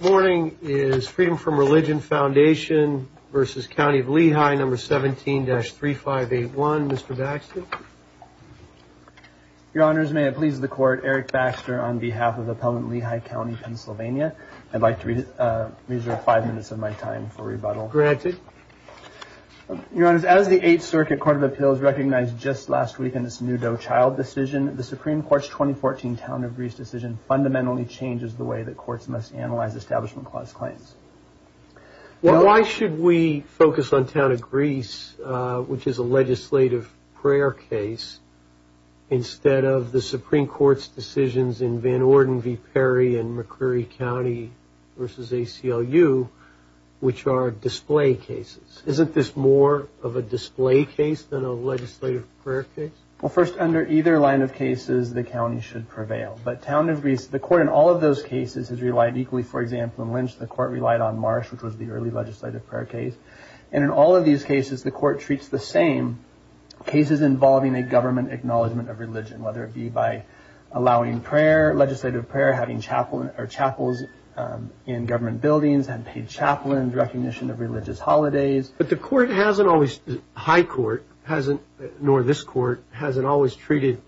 Morning is Freedom From Religion Foundation v. County of Lehigh, No. 17-3581. Mr. Baxter. Your Honors, may it please the Court, Eric Baxter on behalf of Appellant Lehigh County, Pennsylvania. I'd like to reserve five minutes of my time for rebuttal. Granted. Your Honors, as the Eighth Circuit Court of Appeals recognized just last week in this new Doe-Child decision, the Supreme Court's 2014 Town of Greece decision fundamentally changes the way that courts must analyze Establishment Clause claims. Well, why should we focus on Town of Greece, which is a legislative prayer case, instead of the Supreme Court's decisions in Van Orden v. Perry and McCreary County v. ACLU, which are display cases? Isn't this more of a display case than a legislative prayer case? Well, first, under either line of cases, the county should prevail. But Town of Greece, the court in all of those cases has relied equally. For example, in Lynch, the court relied on Marsh, which was the early legislative prayer case. And in all of these cases, the court treats the same cases involving a government acknowledgment of religion, whether it be by allowing legislative prayer, having chapels in government buildings and paid chaplains, recognition of religious holidays. But the court hasn't always, the high court hasn't, nor this court, hasn't always treated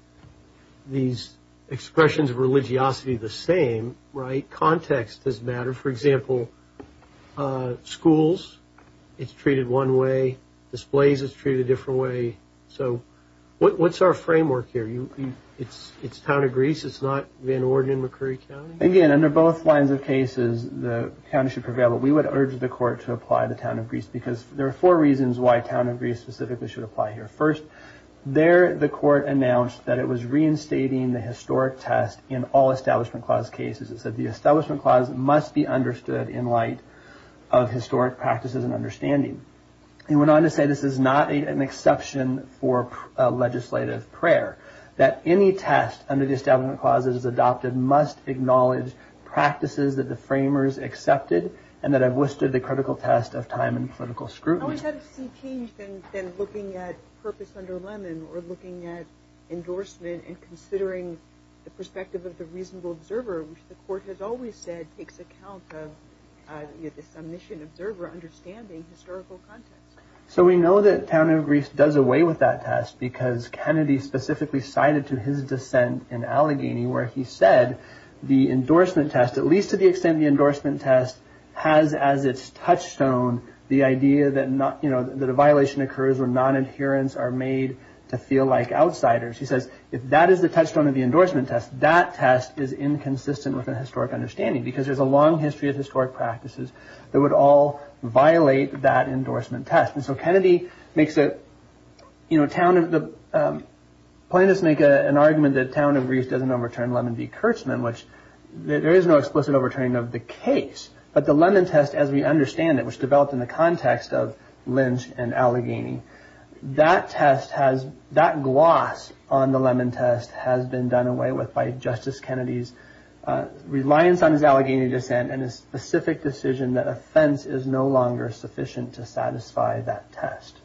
these expressions of religiosity the same, right? Context does matter. For example, schools, it's treated one way. Displays is treated a different way. So what's our framework here? It's Town of Greece, it's not Van Orden and McCreary County? Again, under both lines of cases, the county should prevail. But we would urge the court to apply to Town of Greece because there are four reasons why Town of Greece specifically should apply here. First, there, the court announced that it was reinstating the historic test in all Establishment Clause cases. It said the Establishment Clause must be understood in light of historic practices and understanding. It went on to say this is not an exception for legislative prayer, that any test under the Establishment Clause that is adopted must acknowledge practices that the framers accepted and that have withstood the critical test of time and political scrutiny. So we know that Town of Greece does away with that test because Kennedy specifically cited to his dissent in Allegheny where he said the endorsement test, at least to the extent the endorsement test has as its touchstone the idea that a violation occurs when non-adherents are made to feel like outsiders. He says if that is the touchstone of the endorsement test, that test is inconsistent with a historic understanding because there's a long history of historic practices that would all violate that endorsement test. And so Kennedy makes a, you know, the plaintiffs make an argument that Town of Greece doesn't overturn Lemon v. Kurtzman, which there is no explicit overturning of the case, but the Lemon test as we understand it, which developed in the context of Lynch and Allegheny, that test has, that gloss on the Lemon test has been done away with by Justice Kennedy's reliance on his Allegheny dissent and his specific decision that offense is no longer sufficient to satisfy that test.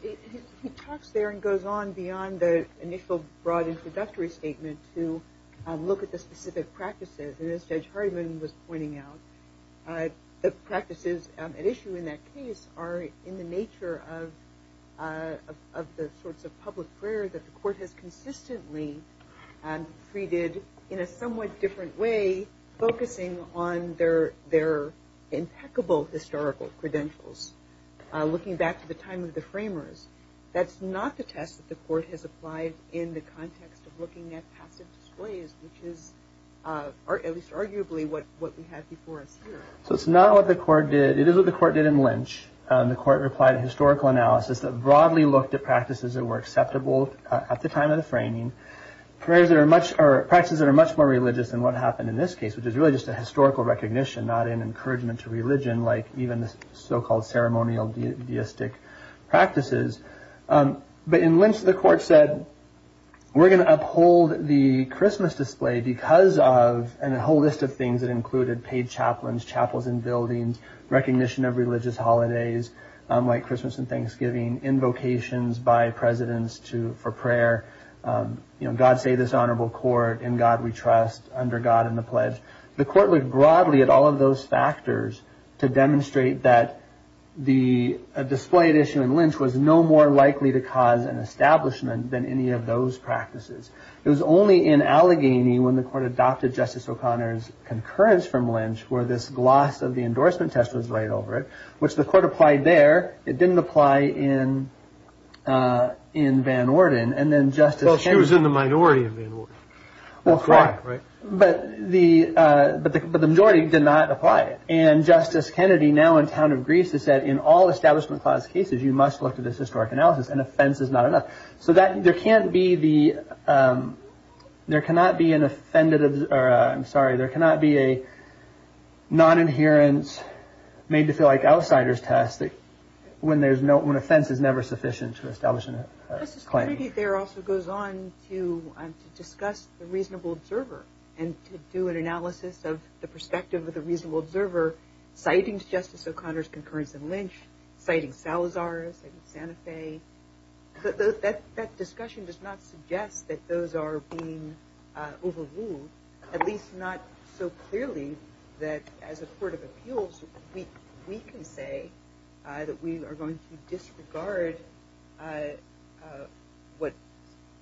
He talks there and goes on beyond the initial broad introductory statement to look at the specific practices and as Judge Hardiman was pointing out, the practices at issue in that case are in the nature of the sorts of public prayer that the court has consistently treated in a somewhat different way focusing on their impeccable historical credentials. Looking back to the time of the framers, that's not the test that the court has applied in the context of looking at passive displays, which is at least arguably what we have before us here. So it's not what the court did, it is what the court did in Lynch. The court replied to historical analysis that broadly looked at practices that were acceptable at the time of the framing, prayers that are much, or practices that are much more religious than what happened in this case, which is really just a historical recognition, not an encouragement to religion like even the so-called ceremonial deistic practices. But in Lynch the court said, we're going to uphold the Christmas display because of, and a whole list of things that included paid chaplains, chapels and buildings, recognition of religious holidays like Christmas and Thanksgiving, invocations by presidents for prayer, God save this honorable court, in God we trust, under God in the pledge. The court looked broadly at all of those factors to demonstrate that the display at issue in Lynch was no more likely to cause an establishment than any of those practices. It was only in Allegheny when the court adopted Justice O'Connor's concurrence from Lynch where this gloss of the endorsement test was laid over it, which the court applied there, it didn't apply in Van Orden, and then Justice... Well, but the majority did not apply it, and Justice Kennedy now in town of Greece has said in all establishment clause cases you must look to this historic analysis and offense is not enough. So that there can't be the, there cannot be an offended, I'm sorry, there cannot be a non-adherence made to feel like outsider's test that when there's no, when offense is never sufficient to establish a claim. Justice Kennedy there also goes on to discuss the reasonable observer and to do an analysis of the perspective of the reasonable observer citing Justice O'Connor's concurrence in Lynch, citing Salazar, citing Santa Fe, that discussion does not suggest that those are being overruled, at least not so clearly that as a court of appeals we can say that we are going to disregard what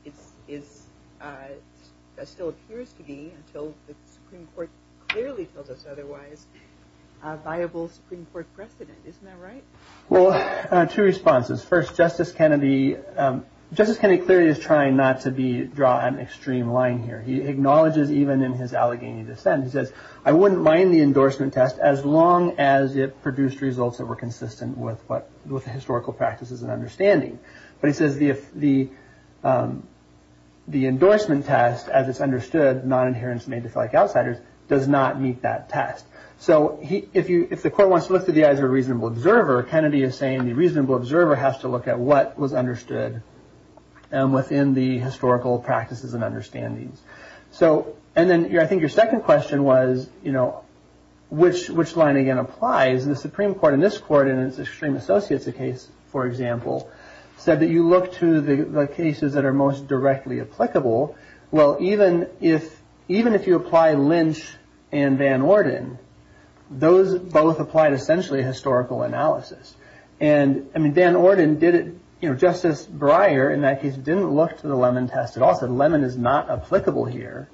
it is, that still appears to be until the Supreme Court clearly tells us otherwise, a viable Supreme Court precedent. Isn't that right? Well, two responses. First, Justice Kennedy, Justice Kennedy clearly is trying not to be, draw an extreme line here. He acknowledges even in his Allegheny dissent, he says I wouldn't mind the endorsement test as long as it produced results that were consistent with what, with historical practices and understanding. But he says the endorsement test as it's understood, non-adherence made to feel like outsider's, does not meet that test. So he, if you, if the court wants to look through the eyes of a reasonable observer, Kennedy is saying the reasonable observer has to look at what was understood and within the historical practices and understandings. So, and then I think your applies in the Supreme Court in this court and it's extreme associates, the case, for example, said that you look to the cases that are most directly applicable. Well, even if, even if you apply Lynch and Van Orden, those both applied essentially historical analysis. And I mean, Van Orden did it, you know, Justice Breyer in that case, didn't look to the lemon test at all. Said lemon is not applicable here.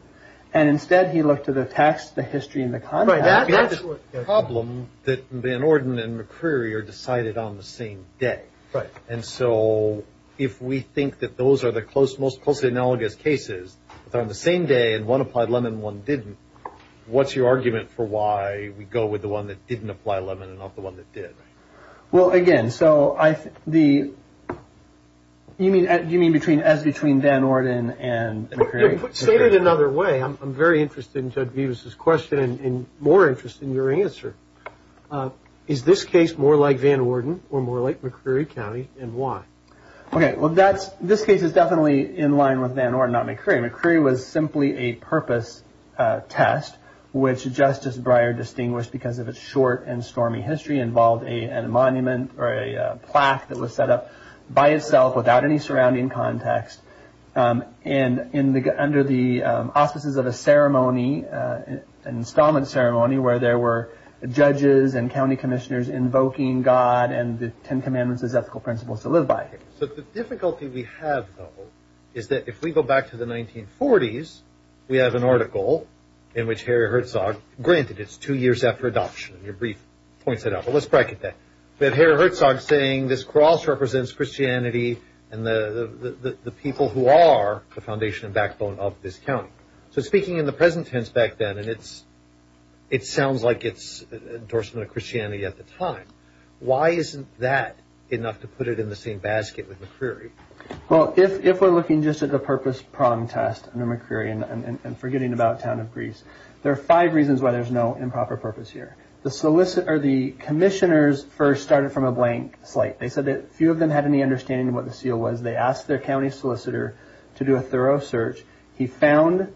And instead he looked to the text, the history and the content. Problem that Van Orden and McCreary are decided on the same day. Right. And so if we think that those are the close, most closely analogous cases on the same day and one applied lemon, one didn't, what's your argument for why we go with the one that didn't apply lemon and not the one that did? Well, again, so I, the, you mean, do you mean between, as between Van Orden and McCreary? Say it another way. I'm very interested in Judge Vivas' question and more interested in your answer. Is this case more like Van Orden or more like McCreary County and why? Okay. Well, that's, this case is definitely in line with Van Orden, not McCreary. McCreary was simply a purpose test, which Justice Breyer distinguished because of its short and stormy history involved a monument or a plaque that was set up by itself without any surrounding context. And in the, under the auspices of a ceremony, an installment ceremony where there were judges and county commissioners invoking God and the Ten Commandments as ethical principles to live by. So the difficulty we have though, is that if we go back to the 1940s, we have an article in which Harry Herzog, granted it's two years after adoption, your brief points it out, but let's bracket that, that Harry Herzog saying this cross represents Christianity and the people who are the foundation and backbone of this county. So speaking in the present tense back then, and it's, it sounds like it's endorsement of Christianity at the time. Why isn't that enough to put it in the same basket with McCreary? Well, if we're looking just at the purpose prong test under McCreary and forgetting about town of there are five reasons why there's no improper purpose here. The solicitor or the commissioners first started from a blank slate. They said that few of them had any understanding of what the seal was. They asked their county solicitor to do a thorough search. He found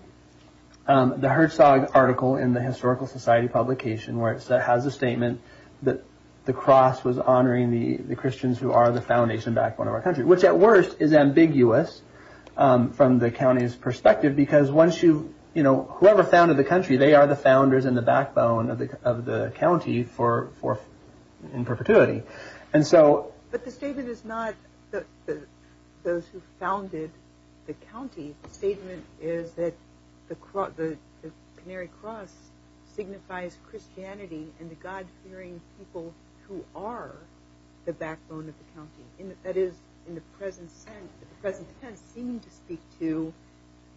the Herzog article in the historical society publication where it has a statement that the cross was honoring the Christians who are the foundation backbone of our country, which at worst is ambiguous from the county's perspective, because once you, you know, whoever founded the country, they are the founders and the backbone of the, of the county for, for, in perpetuity. And so, but the statement is not that those who founded the county statement is that the, the Canary Cross signifies Christianity and the God-fearing people who are the backbone of the county. That is in the present sense, the present tense seeming to speak to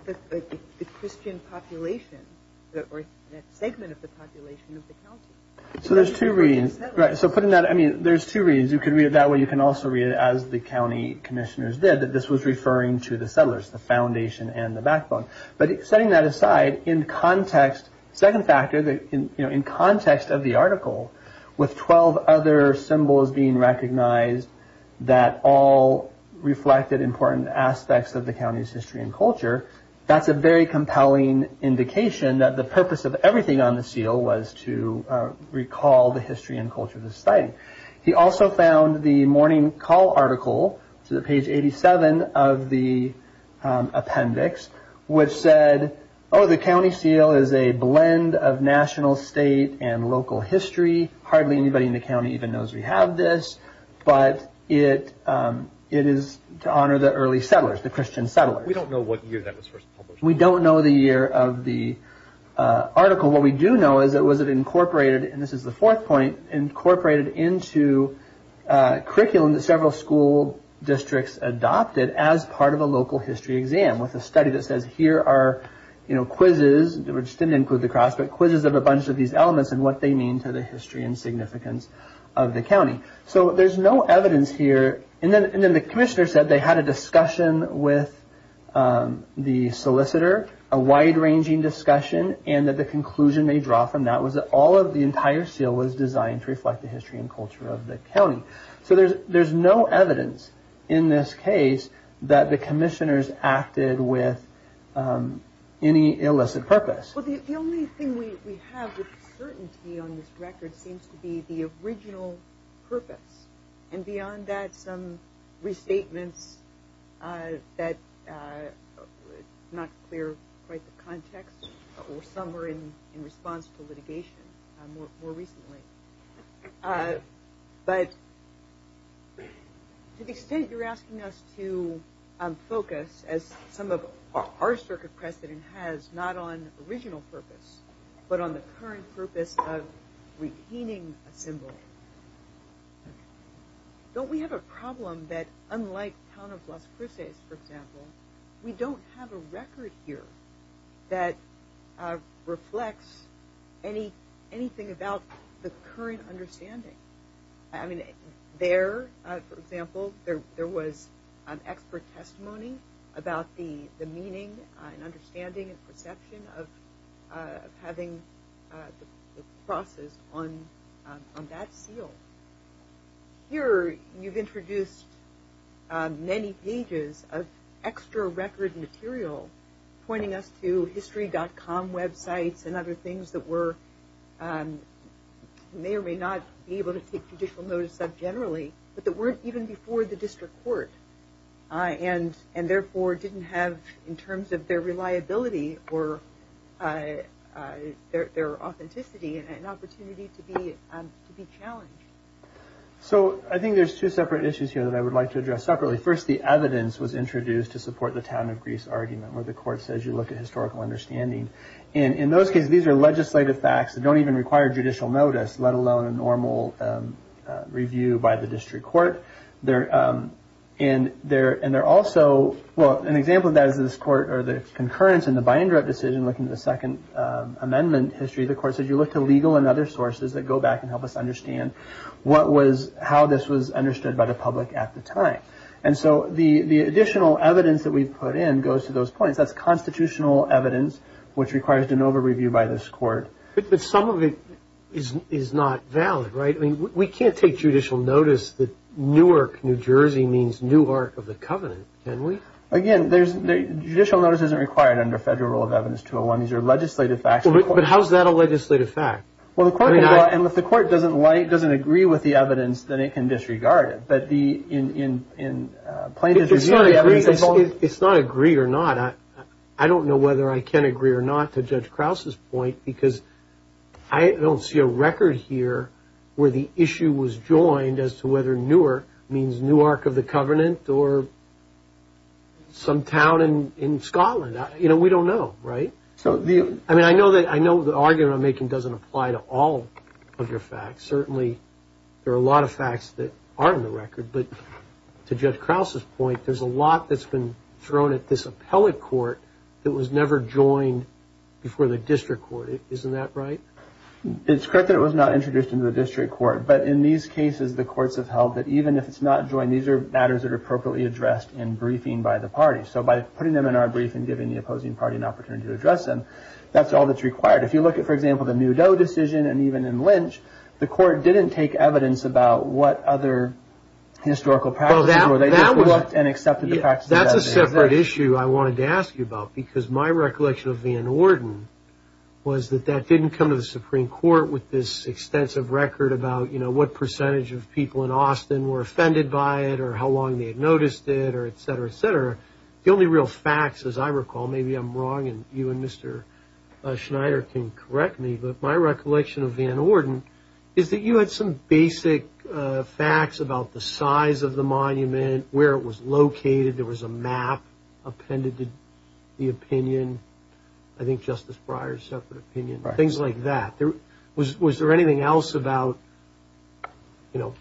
the Christian population or segment of the population of the county. So there's two readings, right? So putting that, I mean, there's two reasons you can read it that way. You can also read it as the county commissioners did, that this was referring to the settlers, the foundation and the backbone. But setting that aside in context, second factor, in context of the article with 12 other symbols being recognized that all reflected important aspects of the county's history and culture, that's a very compelling indication that the purpose of everything on the seal was to recall the history and culture of the site. He also found the morning call article to the page 87 of the appendix, which said, oh, the county seal is a blend of national state and local history. Hardly anybody in the county even knows we have this, but it, it is to honor the early settlers, the Christian settlers. We don't know what year that was first published. We don't know the year of the article. What we do know is that was it incorporated, and this is the fourth point, incorporated into curriculum that several school districts adopted as part of a local history exam with a study that says here are quizzes, which didn't include the cross, but quizzes of a bunch of these elements and what they mean to the history and significance of the county. So there's no evidence here, and then the commissioner said they had a discussion with the solicitor, a wide ranging discussion, and that the conclusion they draw from that was that all of the entire seal was designed to reflect the history and culture of the county. So there's, there's no evidence in this case that the commissioners acted with any illicit purpose. Well, the only thing we have with certainty on this record seems to be the original purpose. And beyond that, some restatements that not clear quite the context or somewhere in response to but to the extent you're asking us to focus as some of our circuit precedent has not on original purpose, but on the current purpose of retaining a symbol. Don't we have a problem that unlike town of Las Cruces, for example, we don't have a record here that reflects anything about the current understanding. I mean, there, for example, there was an expert testimony about the meaning and understanding and perception of having the process on that seal. Here, you've introduced many pages of extra record material pointing us to history.com websites and other things that were may or may not be able to take judicial notice of generally, but that weren't even before the district court and therefore didn't have in terms of their reliability or their authenticity and opportunity to be challenged. So I think there's two separate issues here that I would like to address separately. First, the evidence was introduced to support the town of Greece argument where the court says you look at historical understanding. And in those cases, these are legislative facts that don't even require judicial notice, let alone a normal review by the district court. And they're also, well, an example of that is this court or the concurrence in the Bindrup decision, looking at the second amendment history, the court said, you look to legal and other sources that go back and at the time. And so the additional evidence that we've put in goes to those points. That's constitutional evidence, which requires an over-review by this court. But some of it is not valid, right? I mean, we can't take judicial notice that Newark, New Jersey means Newark of the covenant, can we? Again, judicial notice isn't required under federal rule of evidence 201. These are legislative facts. But how's that a legislative fact? Well, and if the court doesn't agree with the evidence, then it can disregard it. But in plaintiff's review, the evidence involved... It's not agreed or not. I don't know whether I can agree or not to Judge Krause's point, because I don't see a record here where the issue was joined as to whether Newark means Newark of the covenant or some town in Scotland. We don't know, right? I mean, I know the argument I'm making doesn't apply to all of your facts. Certainly, there are a lot of facts that are on the record. But to Judge Krause's point, there's a lot that's been thrown at this appellate court that was never joined before the district court. Isn't that right? It's correct that it was not introduced into the district court. But in these cases, the courts have held that even if it's not joined, these are matters that are appropriately addressed in briefing by the party. So by putting them in our briefing, giving the opposing party an opportunity to address them, that's all that's required. If you look at, for example, the Mudeau decision, and even in Lynch, the court didn't take evidence about what other historical practices were. They just looked and accepted the facts. That's a separate issue I wanted to ask you about, because my recollection of Van Orden was that that didn't come to the Supreme Court with this extensive record about what percentage of people in Austin were offended by it, or how long they had noticed it, or et cetera, et cetera. The only real facts, as I recall, maybe I'm wrong and you and Mr. Schneider can correct me, but my recollection of Van Orden is that you had some basic facts about the size of the monument, where it was located, there was a map appended to the opinion, I think Justice Breyer's separate opinion, things like that. Was there anything else about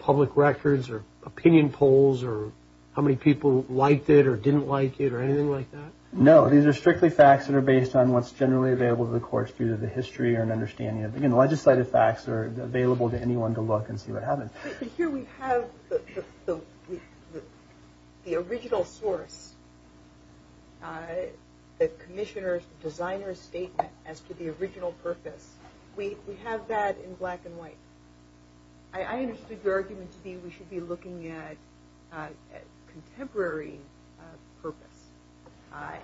public records or opinion polls or how many people liked it or didn't like it or anything like that? No, these are strictly facts that are based on what's generally available to the courts due to the history or an understanding of it. Again, legislative facts are available to anyone to look and see what happened. But here we have the original source, the commissioner's, the designer's statement as to the original purpose. We have that in black and white. I understood your argument to be we should be looking at contemporary purpose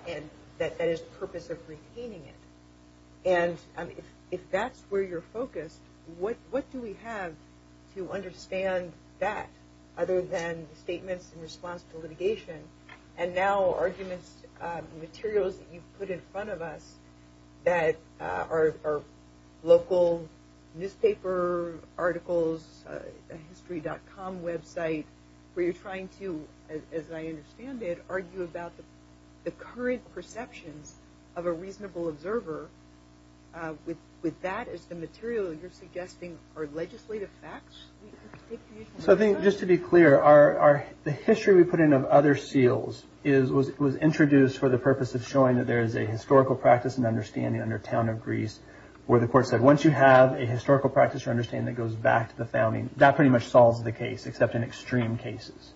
and that is the purpose of retaining it. And if that's where you're focused, what do we have to understand that other than statements in response to litigation and now arguments, materials that you've put in front of that are local newspaper articles, history.com website, where you're trying to, as I understand it, argue about the current perceptions of a reasonable observer, with that as the material you're suggesting are legislative facts? Just to be clear, the history we put in of other seals was introduced for the purpose of showing that there is a historical practice and understanding under Town of Greece, where the court said once you have a historical practice or understanding that goes back to the founding, that pretty much solves the case, except in extreme cases.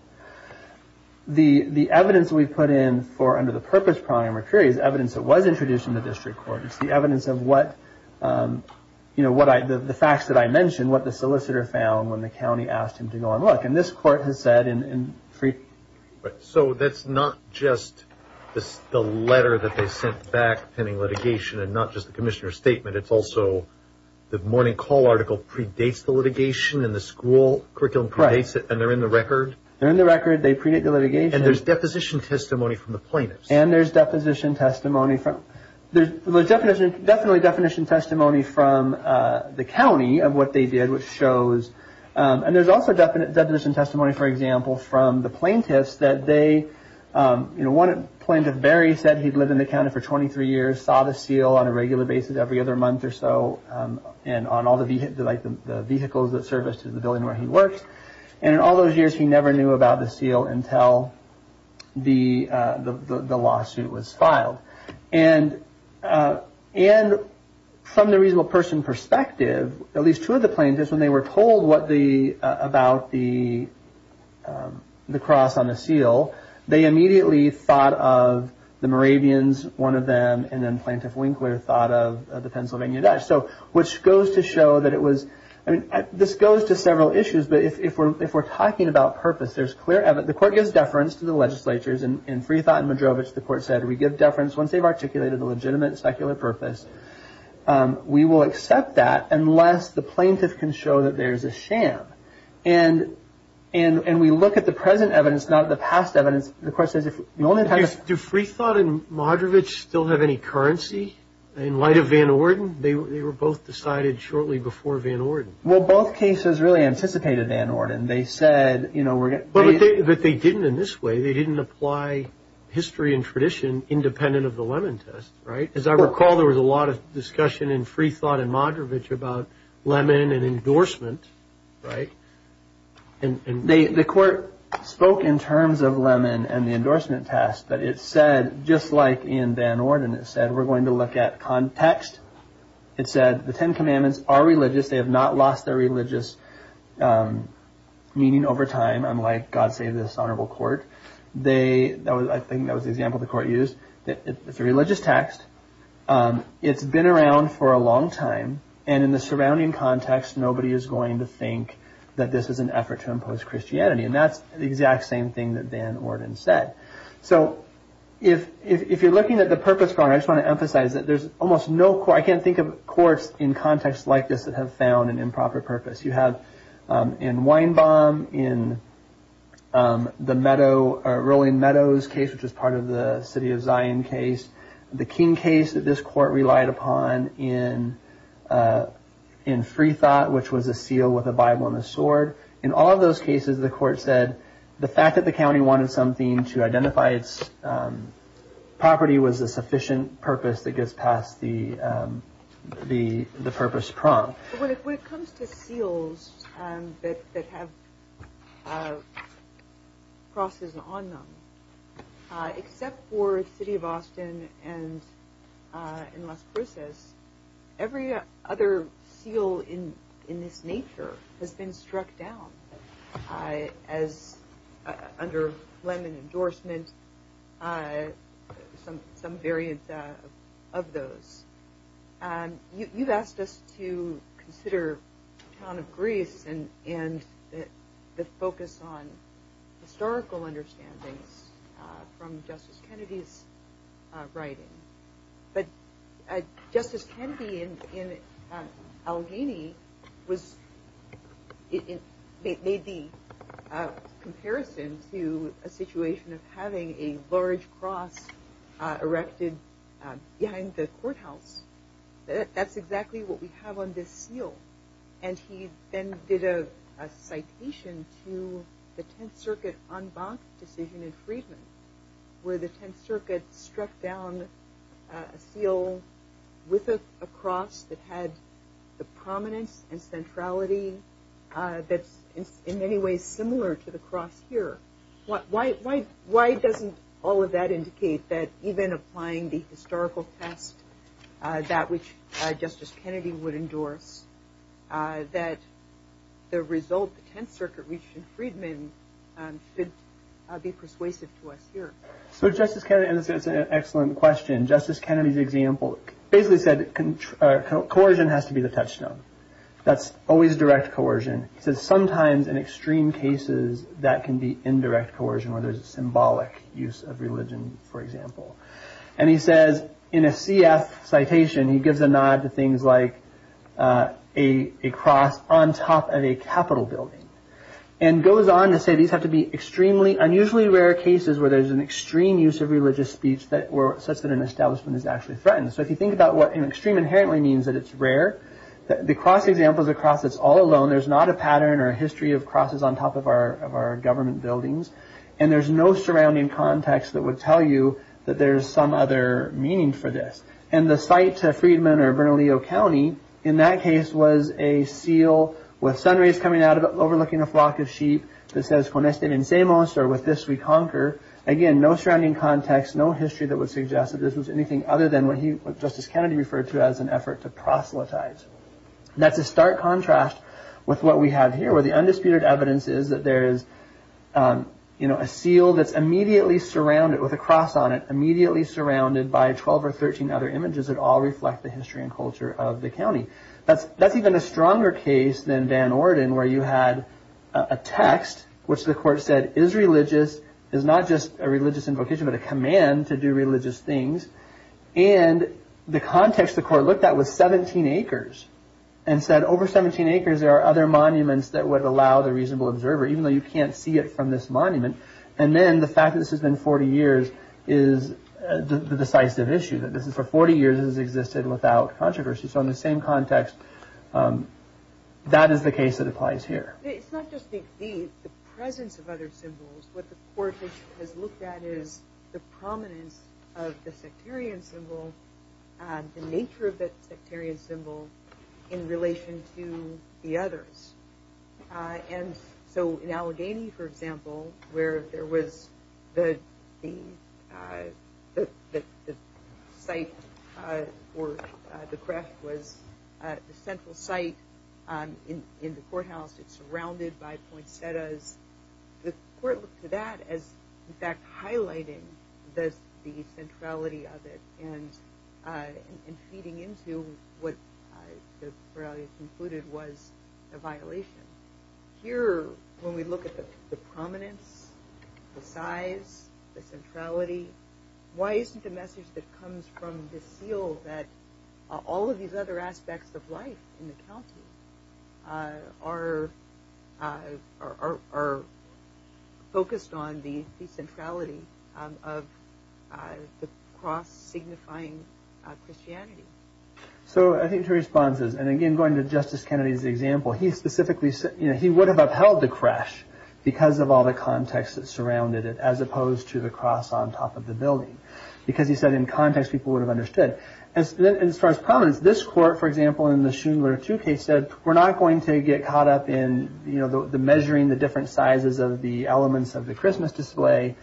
The evidence we put in for under the purpose prior material is evidence that was introduced in the district court. It's the evidence of what, you know, the facts that I mentioned, what the solicitor found when the county asked him to go and look. And this court has said in... So that's not just the letter that they sent back pending litigation and not just the commissioner's statement, it's also the morning call article predates the litigation and the school curriculum predates it and they're in the record? They're in the record, they predate the litigation. And there's deposition testimony from the plaintiffs? And there's deposition testimony from, there's definitely definition testimony from the county of what they did, which shows, and there's also definition testimony, for example, from the plaintiffs that they, you know, one plaintiff, Barry, said he'd lived in the county for 23 years, saw the seal on a regular basis every other month or so, and on all the vehicles that service to the building where he works. And in all those years, he never knew about the seal until the lawsuit was filed. And from the reasonable person perspective, at least two plaintiffs, when they were told what the, about the cross on the seal, they immediately thought of the Moravians, one of them, and then Plaintiff Winkler thought of the Pennsylvania Dutch. So which goes to show that it was, I mean, this goes to several issues, but if we're talking about purpose, there's clear evidence, the court gives deference to the legislatures and in free thought in Madrovich, the court said, we give deference once they've articulated the legitimate secular purpose, we will accept that unless the plaintiff can show that there's a sham. And we look at the present evidence, not the past evidence. The question is, if you only have... Do free thought and Madrovich still have any currency in light of Van Orden? They were both decided shortly before Van Orden. Well, both cases really anticipated Van Orden. They said, you know, we're... But they didn't in this way. They didn't apply history and tradition independent of the Lemon Test, right? As I recall, there was a lot of discussion in free thought in Madrovich about Lemon and endorsement, right? And they, the court spoke in terms of Lemon and the endorsement test, but it said, just like in Van Orden, it said, we're going to look at context. It said the Ten Commandments are religious. They have not lost their religious meaning over time, unlike, God save this honorable court. They, that was, I think that was the example the court used. It's a religious text. It's been around for a long time. And in the surrounding context, nobody is going to think that this is an effort to impose Christianity. And that's the exact same thing that Van Orden said. So if you're looking at the purpose, I just want to emphasize that there's almost no... I can't think of courts in context like this that have found an city of Zion case. The King case that this court relied upon in free thought, which was a seal with a Bible and a sword. In all of those cases, the court said the fact that the county wanted something to identify its property was a sufficient purpose that gets past the purpose prompt. When it comes to seals that have crosses on them, except for the city of Austin and in Las Cruces, every other seal in this nature has been struck down as under lemon endorsement. Some variants of those. You've asked us to consider the town of Greece and the focus on historical understandings from Justice Kennedy's writing. But Justice Kennedy in Allegheny made the comparison to a situation of having a large cross erected behind the courthouse. That's exactly what we have on this seal. And he then did a citation to the Tenth Circuit en banc decision in Freedmen, where the Tenth Circuit struck down a seal with a cross that had the prominence and centrality that's in many ways similar to the cross here. Why doesn't all of that indicate that even applying the historical test that which Justice Kennedy would endorse, that the result the Tenth Circuit reached in Freedmen should be persuasive to us here? So Justice Kennedy, and this is an excellent question, Justice Kennedy's example basically said coercion has to be the touchstone. That's always direct coercion. He says sometimes in extreme cases that can be indirect coercion where there's a symbolic use of religion, for example. And he says in a CF citation, he gives a nod to things like a cross on top of a Capitol building and goes on to say these have to be extremely unusually rare cases where there's an extreme use of religious speech such that an establishment is actually threatened. So if you think about what an extreme inherently means, that it's rare. The cross example is a cross that's all alone. There's not a pattern or a history of crosses on top of our government buildings. And there's no surrounding context that would tell you that there's some other meaning for this. And the site to Freedmen or Bernalillo County, in that case, was a seal with sun rays coming out of it overlooking a flock of sheep that says or with this we conquer. Again, no surrounding context, no history that would suggest that this was anything other than what Justice Kennedy referred to as an effort to proselytize. That's a stark contrast with what we have here, where the undisputed evidence is that there's a seal that's immediately surrounded with a cross on it, immediately surrounded by 12 or 13 other images that all reflect the history and culture of the county. That's even a stronger case than Van Orden, where you had a text which the court said is religious, is not just a religious invocation, but a command to do religious things. And the context the court looked at was 17 acres and said over 17 acres, there are other monuments that would allow the reasonable observer, even though you can't see it from this monument. And then the fact that this has been 40 years is the decisive issue that this is for 40 years has existed without controversy. So in the same context, that is the case that applies here. It's not just the presence of other symbols, what the court has looked at is the prominence of the sectarian symbol and the nature of that sectarian symbol in relation to the others. And so in Allegheny, for example, where there was the site for the craft was the central site in the courthouse. It's surrounded by poinsettias. The court looked to that as in fact highlighting the centrality of it and feeding into what the Corrales concluded was a violation. Here, when we look at the prominence, the size, the centrality, why isn't the message that comes from this seal that all of these other aspects of life in the county are focused on the centrality of the cross signifying Christianity? So I think two responses, and again going to Justice Kennedy's example, he would have upheld the crash because of all the context that surrounded it as opposed to the cross on top of the building because he said in context people would have understood. As far as prominence, this court, for example, in the Schindler II case said we're not going to get caught up in the measuring the different sizes of the elements of the Christmas display.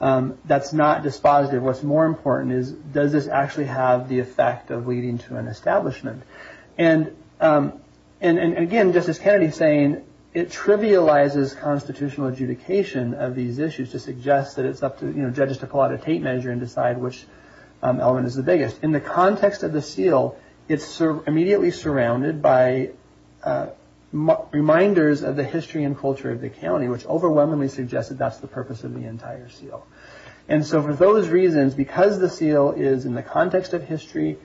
That's not dispositive. What's more important is does this actually have the effect of leading to an establishment? And again, Justice Kennedy saying it trivializes constitutional adjudication of these issues to suggest that it's up to judges to pull out a tape measure and decide which element is the biggest. In the context of the seal, it's immediately surrounded by reminders of the history and culture of the county, which overwhelmingly suggests that that's the purpose of the entire seal. And so for those reasons, because the seal is in the context of historical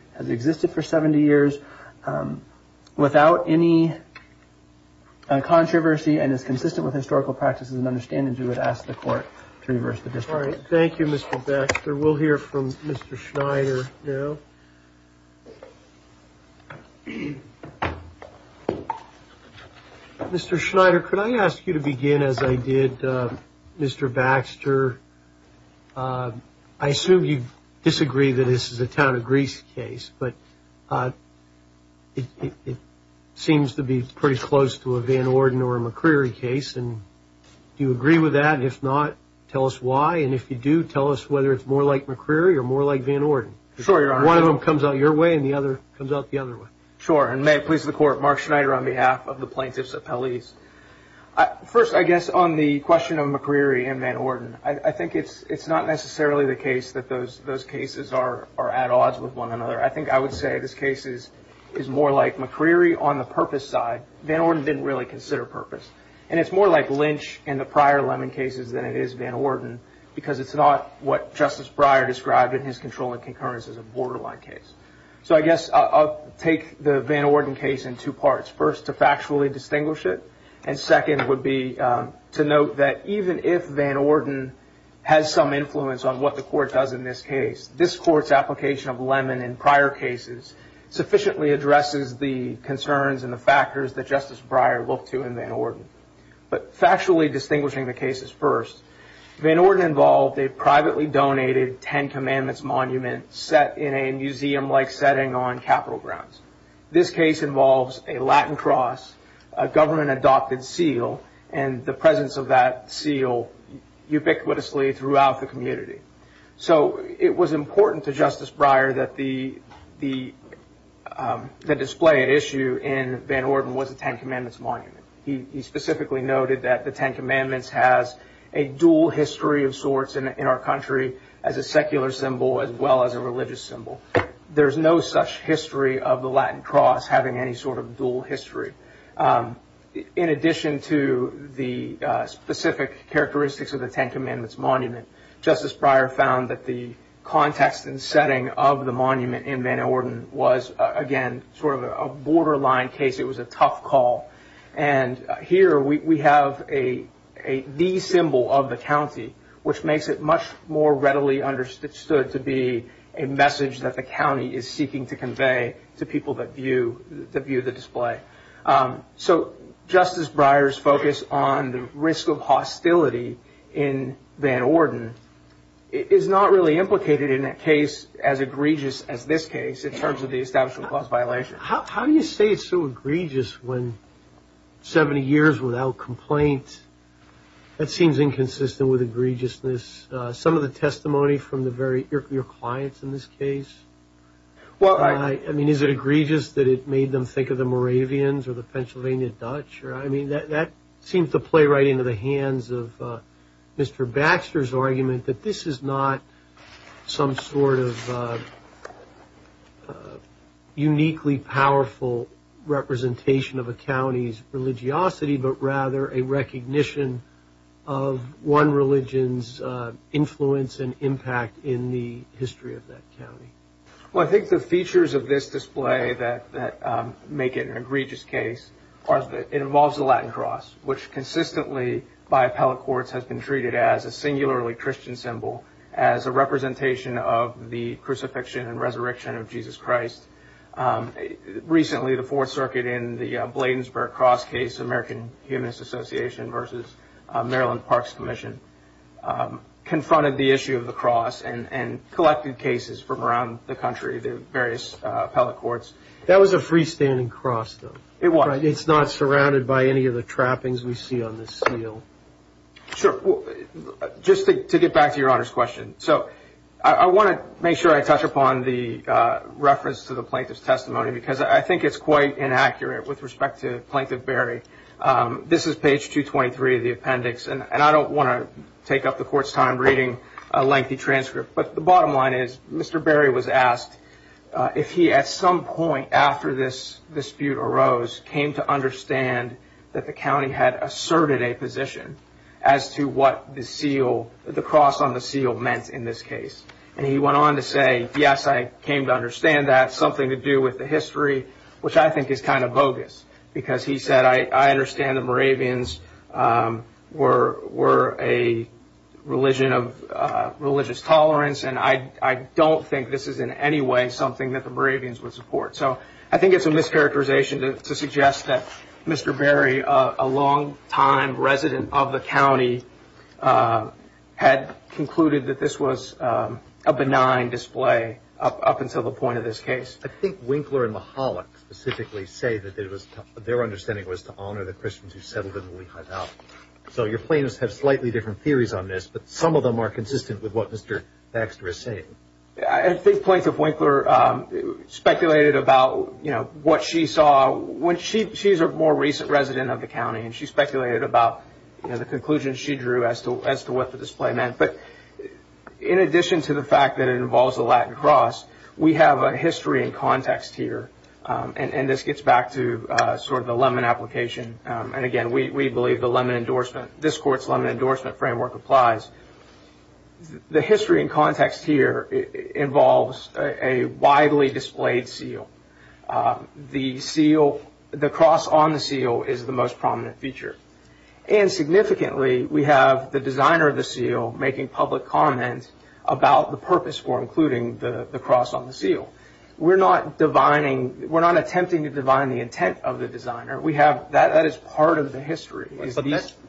practice, without any controversy and is consistent with historical practices and understandings, we would ask the court to reverse the district. All right. Thank you, Mr. Baxter. We'll hear from Mr. Schneider now. Mr. Schneider, could I ask you to begin as I did, Mr. Baxter? I assume you disagree that this is a Greece case, but it seems to be pretty close to a Van Orden or a McCreery case. And do you agree with that? And if not, tell us why. And if you do, tell us whether it's more like McCreery or more like Van Orden. One of them comes out your way and the other comes out the other way. Sure. And may it please the court, Mark Schneider on behalf of the plaintiffs appellees. First, I guess on the question of McCreery and Van Orden, I think it's not necessarily the case that those cases are at odds with one another. I think I would say this case is more like McCreery on the purpose side. Van Orden didn't really consider purpose. And it's more like Lynch in the prior Lemon cases than it is Van Orden, because it's not what Justice Breyer described in his controlling concurrence as a borderline case. So I guess I'll take the Van Orden case in two parts. First, to factually distinguish it. And second would be to note that even if Van Orden has some influence on what the court does in this case, this court's application of Lemon in prior cases sufficiently addresses the concerns and the factors that Justice Breyer looked to in Van Orden. But factually distinguishing the cases first, Van Orden involved a privately donated Ten Commandments monument set in a museum-like setting on Capitol grounds. This case involves a Latin cross, a government-adopted seal, and the presence of that seal ubiquitously throughout the community. So it was important to Justice Breyer that the display at issue in Van Orden was a Ten Commandments monument. He specifically noted that the Ten Commandments has a dual history of sorts in our country as a secular symbol as well as a religious symbol. There's no such history of the Latin cross having any sort of dual history. In addition to the specific characteristics of the Ten Commandments monument, Justice Breyer found that the context and setting of the monument in Van Orden was, again, sort of a borderline case. It was a tough call. And here we have the symbol of the county, which makes it much more readily understood to be a message that the county is seeking to convey to people that view the display. So Justice Breyer's focus on the risk of hostility in Van Orden is not really implicated in a case as egregious as this case in terms of the Establishment Clause violation. How do you say it's so egregious when 70 years without complaint? That seems inconsistent with your clients in this case. Is it egregious that it made them think of the Moravians or the Pennsylvania Dutch? That seems to play right into the hands of Mr. Baxter's argument that this is not some sort of uniquely powerful representation of a county's religiosity, but rather a recognition of one religion's influence and impact in the history of that county. Well, I think the features of this display that make it an egregious case are that it involves the Latin cross, which consistently by appellate courts has been treated as a singularly Christian symbol, as a representation of the crucifixion and resurrection of Jesus Christ. Recently, the Fourth Circuit in the Bladensburg cross case, American Humanist Association versus Maryland Parks Commission, confronted the issue of the cross and collected cases from around the country, the various appellate courts. That was a freestanding cross though. It was. It's not surrounded by any of the trappings we see on this seal. Sure. Just to get back to your Honor's question. So I want to make sure I touch upon the reference to the plaintiff's testimony because I think it's quite inaccurate with respect to Plaintiff Berry. This is page 223 of the appendix and I don't want to take up the court's time reading a lengthy transcript, but the bottom line is Mr. Berry was asked if he, at some point after this dispute arose, came to understand that the county had asserted a position as to what the cross on and he went on to say, yes, I came to understand that. Something to do with the history, which I think is kind of bogus because he said, I understand the Moravians were a religion of religious tolerance and I don't think this is in any way something that the Moravians would support. So I think it's a mischaracterization to suggest that Mr. Berry, a long time resident of the county, had concluded that this was a benign display up until the point of this case. I think Winkler and Mahalik specifically say that their understanding was to honor the Christians who settled in the Lehigh Valley. So your plaintiffs have slightly different theories on this, but some of them are consistent with what Mr. Baxter is saying. I think Plaintiff Winkler speculated about what she saw when she, she's a more recent resident of the county, and she speculated about the conclusion she drew as to what the display meant. But in addition to the fact that it involves the Latin cross, we have a history and context here. And this gets back to sort of the Lemon application. And again, we believe the Lemon endorsement, this court's Lemon endorsement framework applies. The history and context here involves a widely displayed seal. The seal, the cross on the seal is the most prominent feature. And significantly, we have the designer of the seal making public comment about the purpose for including the cross on the seal. We're not divining, we're not attempting to divine the intent of the designer. We have, that is part of the history.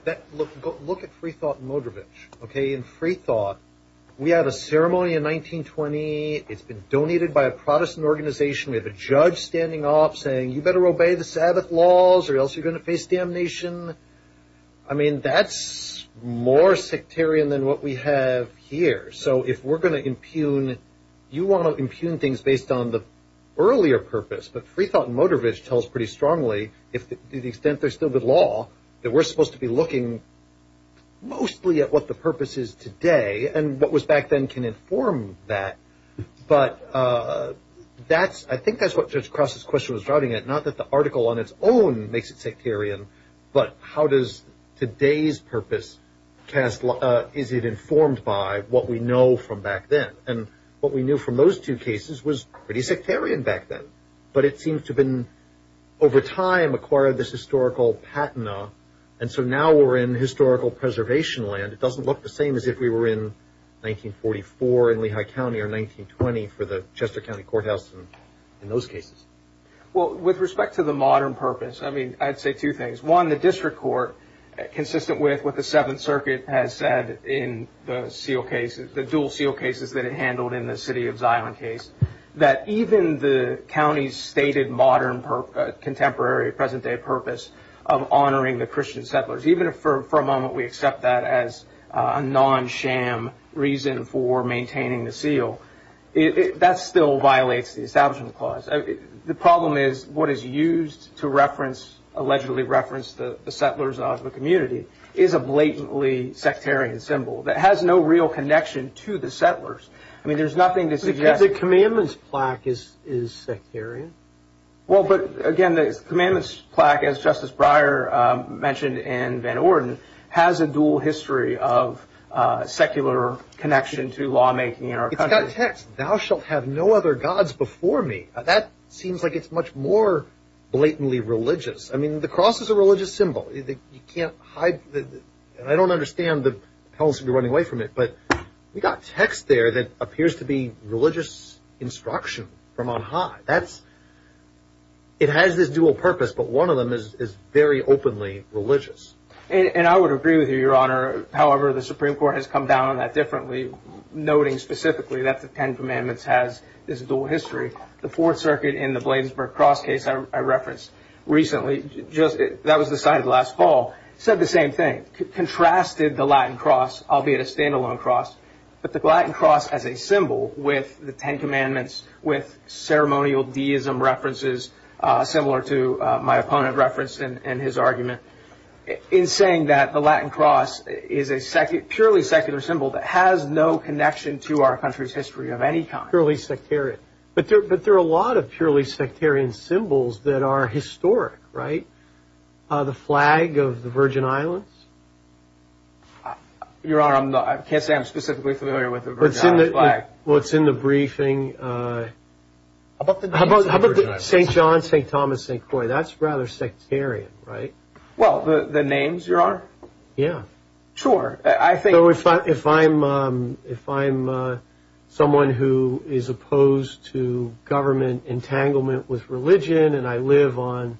That, look at Freethought and Modrovich, okay? In Freethought, we have a ceremony in 1920, it's been donated by a Protestant organization, we have a judge standing up saying, you better obey the Sabbath laws or else you're going to face damnation. I mean, that's more sectarian than what we have here. So if we're going to impugn, you want to impugn things based on the earlier purpose. But Freethought and Modrovich tells pretty strongly, to the extent they're still the law, that we're supposed to be looking mostly at what the purpose is today and what was back then can inform that. But that's, I think that's what Judge Cross's question was driving at. Not that the article on its own makes it sectarian, but how does today's purpose cast, is it informed by what we know from back then? And what we knew from those two cases was pretty sectarian back then. But it seems to have over time acquired this historical patina, and so now we're in historical preservation land. It doesn't look the same as if we were in 1944 in Lehigh County or 1920 for the Chester County Courthouse in those cases. Well, with respect to the modern purpose, I mean, I'd say two things. One, the district court, consistent with what the Seventh Circuit has said in the seal cases, the dual seal cases that it handled in the city of Zion case, that even the county's stated modern contemporary, present-day purpose of honoring the Christian settlers, even if for a moment we accept that as a non-sham reason for maintaining the seal, that still violates the Establishment Clause. The problem is what is used to reference, allegedly reference, the settlers of the community is a blatantly sectarian symbol that has no real connection to the settlers. I mean, again, the commandment's plaque, as Justice Breyer mentioned in Van Orden, has a dual history of secular connection to lawmaking in our country. It's got text. Thou shalt have no other gods before me. That seems like it's much more blatantly religious. I mean, the cross is a religious symbol. You can't hide, and I don't understand the hells we're running away from it, but we got text there that appears to be religious instruction from on high. That's has this dual purpose, but one of them is very openly religious. I would agree with you, Your Honor. However, the Supreme Court has come down on that differently, noting specifically that the Ten Commandments has this dual history. The Fourth Circuit in the Bladensburg Cross case I referenced recently, that was decided last fall, said the same thing. Contrasted the Latin cross, albeit a standalone cross, but the Latin cross as a symbol with the similar to my opponent referenced in his argument, in saying that the Latin cross is a purely secular symbol that has no connection to our country's history of any kind. Purely sectarian. But there are a lot of purely sectarian symbols that are historic, right? The flag of the Virgin Islands? Your Honor, I can't say I'm specifically familiar with the Virgin Islands flag. Well, it's in the briefing. How about the names of the Virgin Islands? St. John, St. Thomas, St. Croix. That's rather sectarian, right? Well, the names, Your Honor? Yeah. Sure. I think... So if I'm someone who is opposed to government entanglement with religion, and I live on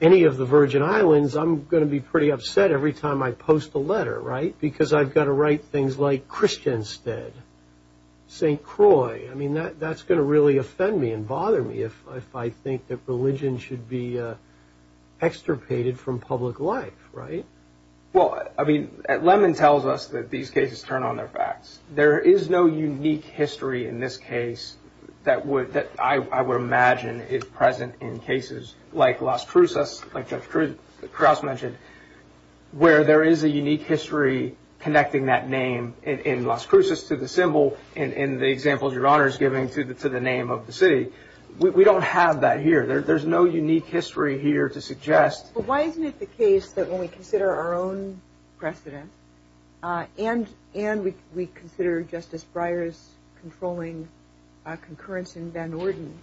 any of the Virgin Islands, I'm going to be pretty upset every time I post a letter, right? Because I've got to write things like Christianstead, St. Croix. I mean, that's going to really offend me and bother me if I think that religion should be extirpated from public life, right? Well, I mean, Lemmon tells us that these cases turn on their facts. There is no unique history in this case that I would imagine is present in cases like Las Cruces, like Judge Crouse mentioned, where there is a unique history connecting that name in Las Cruces to the symbol and the examples Your Honor is giving to the name of the city. We don't have that here. There's no unique history here to suggest... But why isn't it the case that when we consider our own precedent, and we consider Justice Breyer's controlling concurrence in Van Norden,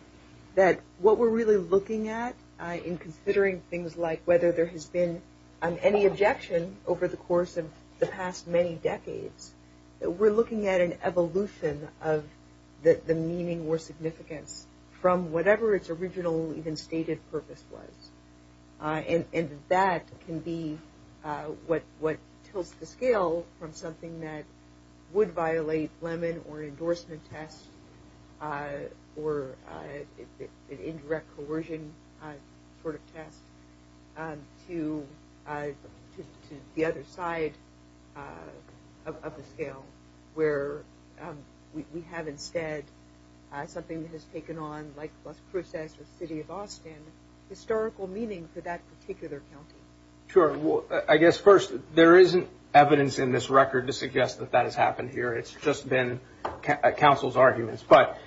that what we're really looking at in considering things like whether there has been any objection over the course of the past many decades, that we're looking at an evolution of the meaning or significance from whatever its original even stated purpose was. And that can be what tilts the scale from something that would violate Lemmon or an endorsement test or an indirect coercion sort of test to the other side of the scale, where we have instead something that has taken on, like Las Cruces or the city of Austin, historical meaning for that particular county. Sure. Well, I guess first, there isn't evidence in this record to suggest that that has happened here. It's just been counsel's arguments. But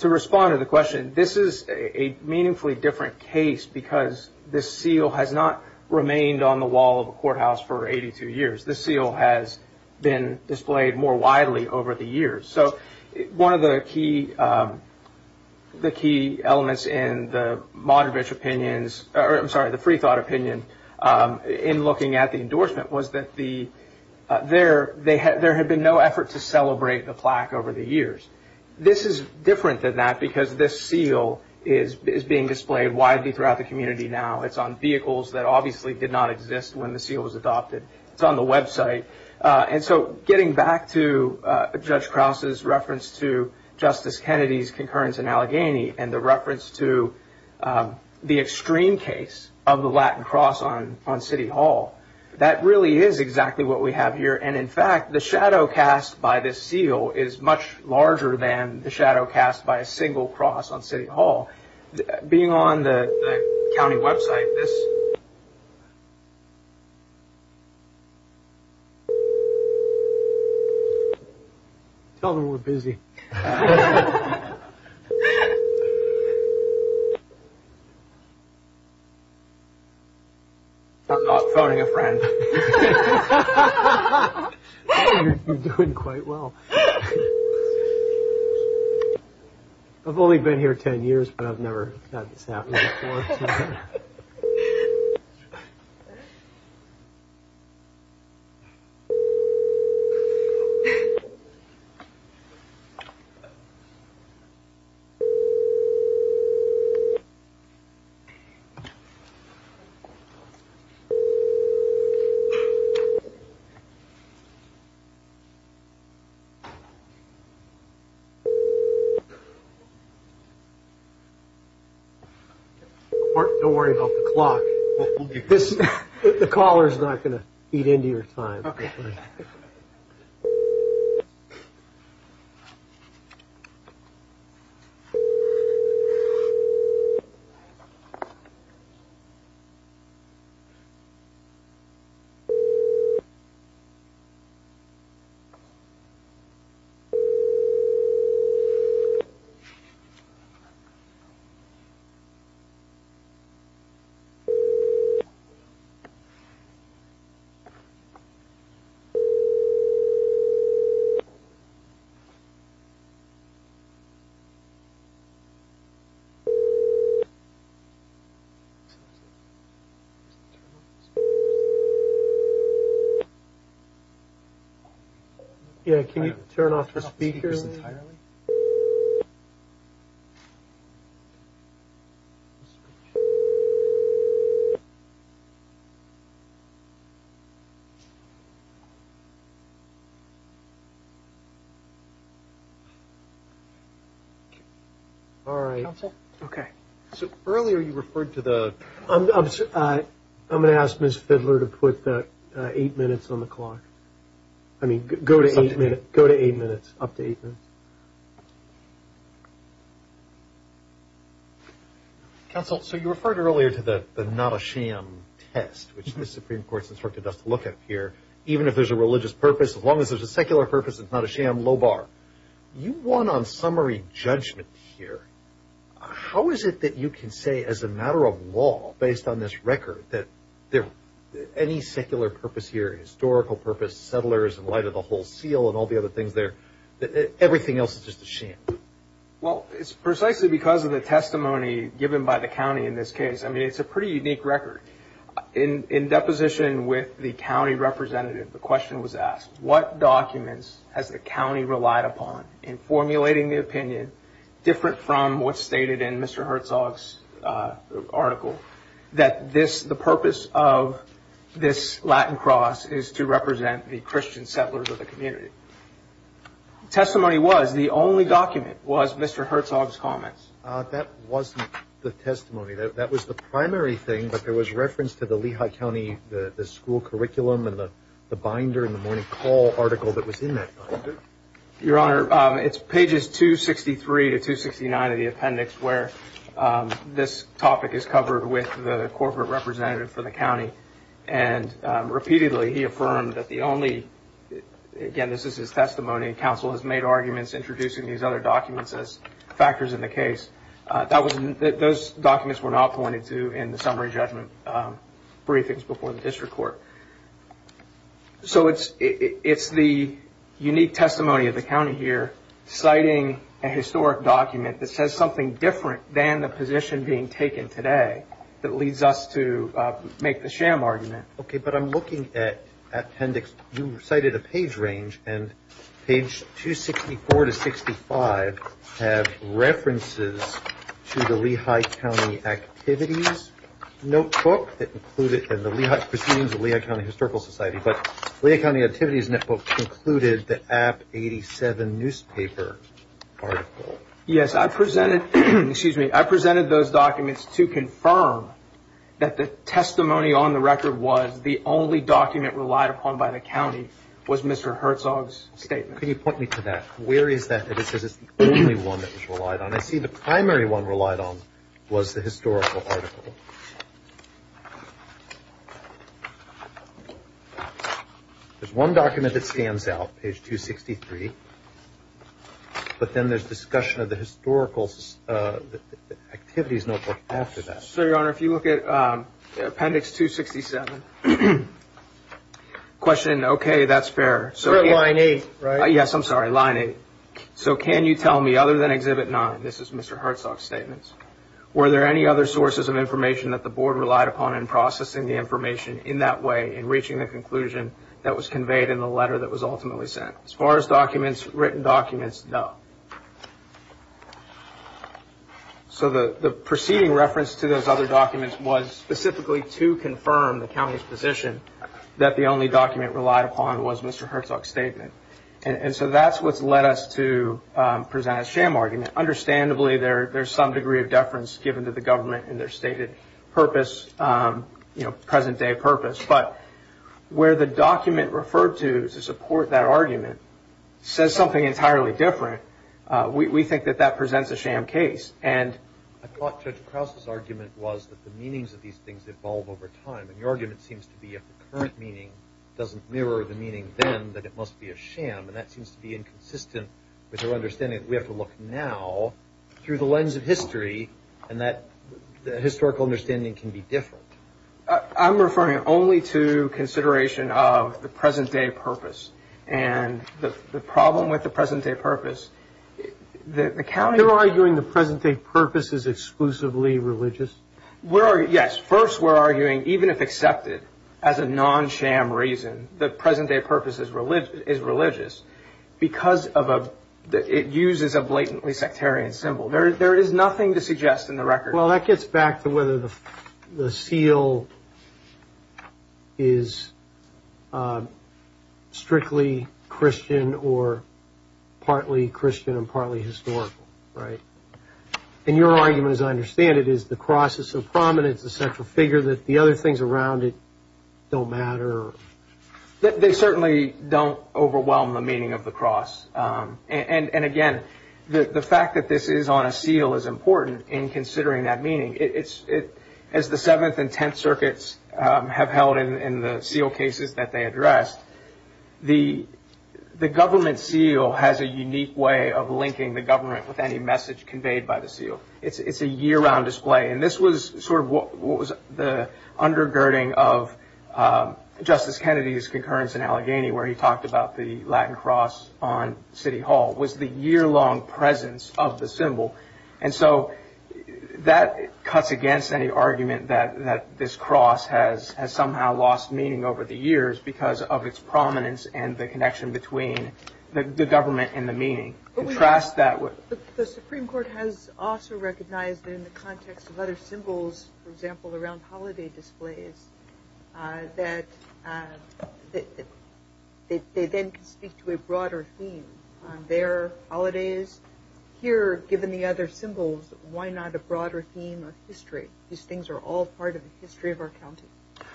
to respond to the question, this is a meaningfully different case because this seal has not remained on the wall of a courthouse for 82 years. This seal has been displayed more widely over the years. So one of the key elements in the to celebrate the plaque over the years. This is different than that because this seal is being displayed widely throughout the community now. It's on vehicles that obviously did not exist when the seal was adopted. It's on the website. And so getting back to Judge Krause's reference to Justice Kennedy's concurrence in Allegheny and the reference to the extreme case of the Latin cross on City Hall, that really is exactly what we have here. And in fact, the shadow cast by this seal is much larger than the shadow cast by a single cross on City Hall. Being on the county website, this... Tell them we're busy. You're doing quite well. I've only been here 10 years, but I've never had this happen before. Don't worry about the clock. The caller is not going to eat into your time. Yeah, can you turn off your speakers entirely? All right. Okay. So earlier you referred to the... I'm going to ask Ms. Fidler to put that eight minutes on the clock. I mean, go to eight minutes, up to eight minutes. Counsel, so you referred earlier to the not a sham test, which the Supreme Court's instructed us to look at here. Even if there's a religious purpose, as long as there's a secular purpose, it's not a sham, low bar. You won on summary judgment here. How is it that you can say as a matter of law, based on this record, that any secular purpose here, historical purpose, settlers in light of the whole seal and all the other things there, that everything else is just a sham? Well, it's precisely because of the testimony given by the county in this case. I mean, it's a pretty unique record. In deposition with the county representative, the question was asked, what documents has the county relied upon in formulating the opinion, different from what's stated in Mr. Herzog's article, that the purpose of this Latin cross is to represent the Christian settlers of the community? Testimony was, the only document was Mr. Herzog's comments. That wasn't the testimony. That was the primary thing, but there was reference to the Lehigh County, the school curriculum and the call article that was in that binder. Your Honor, it's pages 263 to 269 of the appendix where this topic is covered with the corporate representative for the county. And repeatedly, he affirmed that the only, again, this is his testimony, counsel has made arguments introducing these other documents as factors in the case. Those documents were not pointed to in the summary judgment briefings before the district court. So, it's the unique testimony of the county here, citing a historic document that says something different than the position being taken today that leads us to make the sham argument. Okay, but I'm looking at appendix, you cited a page range and page 264 to 65 have references to the Lehigh County activities notebook that included in the Lehigh, presumes the Lehigh County Historical Society, but Lehigh County activities netbook included the app 87 newspaper article. Yes, I presented, excuse me, I presented those documents to confirm that the testimony on the record was the only document relied upon by the county was Mr. Herzog's statement. Can you point me to that? Where is that? It says it's the only one that was relied on. I see the primary one relied on was the historical article. There's one document that stands out, page 263, but then there's discussion of the historical activities notebook after that. Sir, your honor, if you look at appendix 267, question, okay, that's fair. You're at line eight, right? Yes, I'm sorry, line eight. So can you tell me other than exhibit nine, this is Mr. Herzog's statements, were there any other sources of information that the board relied upon in processing the information in that way in reaching the conclusion that was conveyed in the letter that was ultimately sent? As far as documents, written documents, no. So the preceding reference to those other documents was specifically to confirm the So that's what's led us to present a sham argument. Understandably, there's some degree of deference given to the government in their stated purpose, present day purpose, but where the document referred to to support that argument says something entirely different, we think that that presents a sham case. I thought Judge Krause's argument was that the meanings of these things evolve over time, and your argument seems to be if the current meaning doesn't mirror the must be a sham, and that seems to be inconsistent with our understanding that we have to look now through the lens of history, and that the historical understanding can be different. I'm referring only to consideration of the present day purpose, and the problem with the present day purpose, the county... You're arguing the present day purpose is exclusively religious? Yes, first we're arguing even if accepted as a non-sham reason, the present day purpose is religious, because it uses a blatantly sectarian symbol. There is nothing to suggest in the record. Well, that gets back to whether the seal is strictly Christian, or partly Christian, and partly historical, right? And your argument, as I understand it, is the cross is so prominent, it's a central figure, that the other things around it don't matter? They certainly don't overwhelm the meaning of the cross, and again, the fact that this is on a seal is important in considering that meaning. As the 7th and 10th circuits have held in the seal cases that they addressed, the government seal has a unique way of linking the government with any message conveyed by the seal. It's a year-round display, and this was sort of what was the undergirding of Justice Kennedy's concurrence in Allegheny, where he talked about the Latin cross on City Hall, was the year-long presence of the symbol, and so that cuts against any argument that this cross has somehow lost meaning over the years because of its prominence and the connection between the government and the meaning. The Supreme Court has also recognized that in the holidays, that they then can speak to a broader theme on their holidays. Here, given the other symbols, why not a broader theme of history? These things are all part of the history of our county.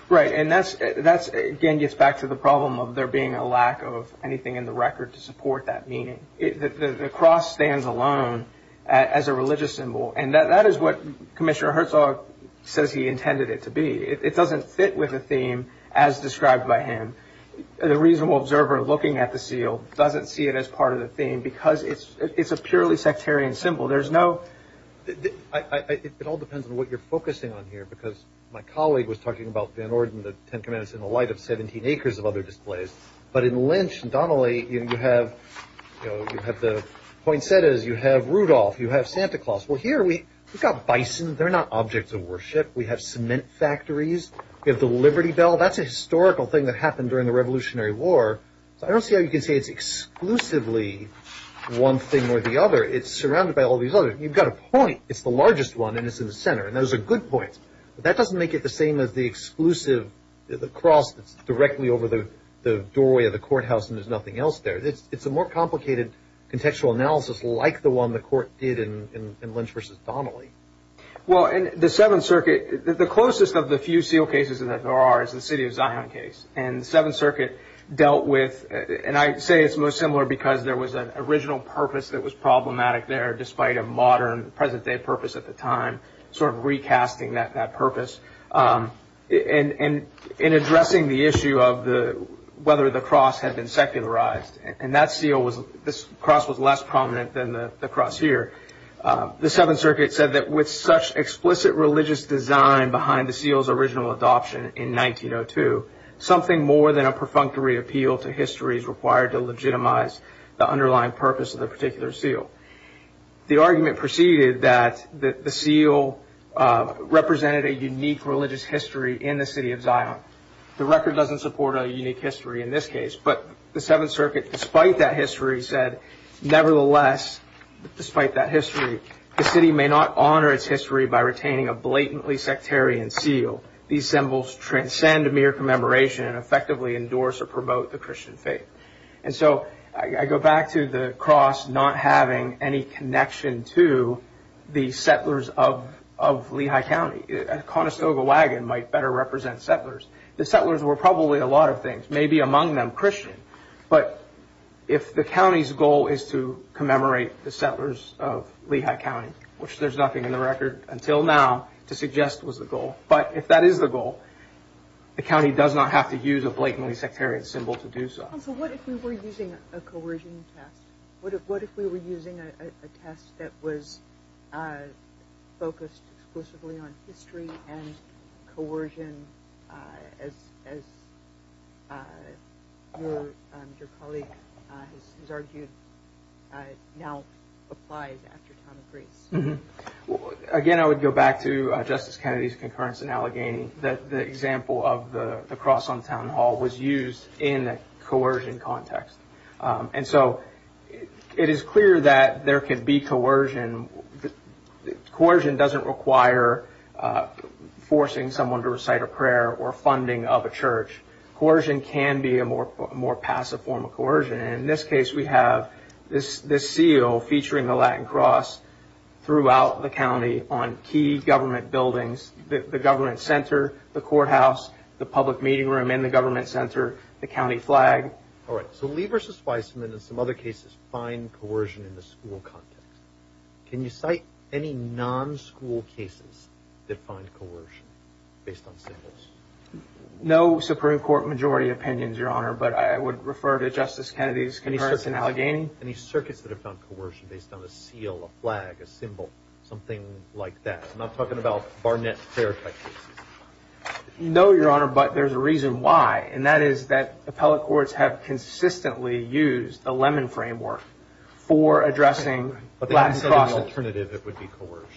Right, and that again gets back to the problem of there being a lack of anything in the record to support that meaning. The cross stands alone as a religious symbol, and that is what Commissioner Herzog says he intended it to be. It doesn't fit with the theme as described by him. The reasonable observer looking at the seal doesn't see it as part of the theme because it's a purely sectarian symbol. It all depends on what you're focusing on here, because my colleague was talking about Van Orden, the Ten Commandments, in the light of 17 acres of other displays, but in Lynch and Donnelly, you have the poinsettias, you have Rudolph, you have Santa Claus. Here, we've got bison. They're not objects of worship. We have cement factories. We have the Liberty Bell. That's a historical thing that happened during the Revolutionary War. I don't see how you can say it's exclusively one thing or the other. It's surrounded by all these others. You've got a point. It's the largest one, and it's in the center, and those are good points, but that doesn't make it the same as the exclusive cross that's directly over the doorway of the courthouse, and there's nothing else there. It's a more complicated contextual analysis like the one the court did in Lynch versus Donnelly. Well, in the Seventh Circuit, the closest of the few seal cases that there are is the City of Zion case, and the Seventh Circuit dealt with, and I'd say it's most similar because there was an original purpose that was problematic there, despite a modern, present-day purpose at the time, sort of recasting that purpose in addressing the issue of whether the cross had been secularized. This cross was less prominent than the cross here. The Seventh Circuit said that with such explicit religious design behind the seal's original adoption in 1902, something more than a perfunctory appeal to history is required to legitimize the underlying purpose of the particular seal. The argument proceeded that the seal represented a unique religious history in the City of Zion. The record doesn't support a unique history in this case, but the Seventh Circuit, despite that history, said, nevertheless, despite that history, the city may not honor its history by retaining a blatantly sectarian seal. These symbols transcend mere commemoration and effectively endorse or promote the Christian faith. So, I go back to the cross not having any connection to the settlers of Lehigh County. Conestoga Wagon might better represent settlers. The settlers were probably a lot of things, maybe among them Christian, but if the county's goal is to commemorate the settlers of Lehigh County, which there's nothing in the record until now to suggest was the goal, but if that is the goal, the county does not have to use a blatantly sectarian symbol to do so. So, what if we were using a coercion test? What if we were using a test that was focused exclusively on history and that, as your colleague has argued, now applies after the time of grace? Again, I would go back to Justice Kennedy's concurrence in Allegheny that the example of the cross on Town Hall was used in a coercion context. And so, it is clear that there could be coercion. The coercion doesn't require forcing someone to recite a prayer or funding of a church. Coercion can be a more passive form of coercion. In this case, we have this seal featuring the Latin cross throughout the county on key government buildings, the government center, the courthouse, the public meeting room in the government center, the county flag. All right. So, Lee v. Spiceman and some other cases find coercion in the school context. Can you cite any non-school cases that find coercion based on symbols? No Supreme Court majority opinions, Your Honor, but I would refer to Justice Kennedy's concurrence in Allegheny. Any circuits that have found coercion based on a seal, a flag, a symbol, something like that? I'm not talking about Barnett Fair type cases. No, Your Honor, but there's a reason why. And that is that appellate courts have consistently used the Lemon Framework for addressing Latin cross. But that's an alternative that would be coercion.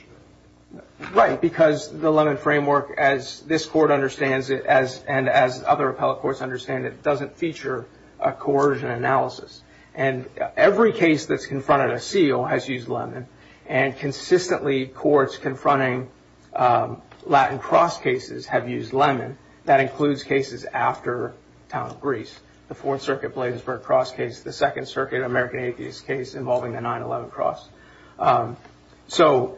Right. Because the Lemon Framework, as this court understands it, and as other appellate courts understand it, doesn't feature a coercion analysis. And every case that's confronted a seal has used Lemon. And consistently, courts confronting Latin cross cases have used Lemon. That includes cases after the town of Greece, the Fourth Circuit Bladesburg cross case, the Second Circuit American Atheist case involving the 9-11 cross. So,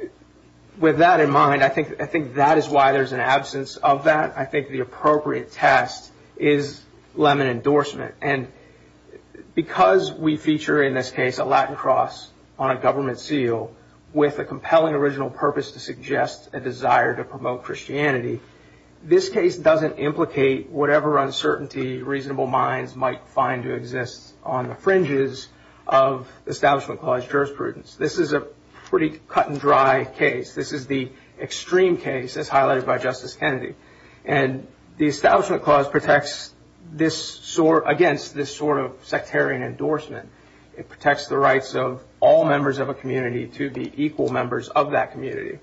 with that in mind, I think that is why there's an absence of that. I think the appropriate test is Lemon endorsement. And we feature in this case a Latin cross on a government seal with a compelling original purpose to suggest a desire to promote Christianity. This case doesn't implicate whatever uncertainty reasonable minds might find to exist on the fringes of the Establishment Clause jurisprudence. This is a pretty cut and dry case. This is the extreme case as highlighted by Justice Kennedy. And the Establishment Clause protects against this sectarian endorsement. It protects the rights of all members of a community to be equal members of that community.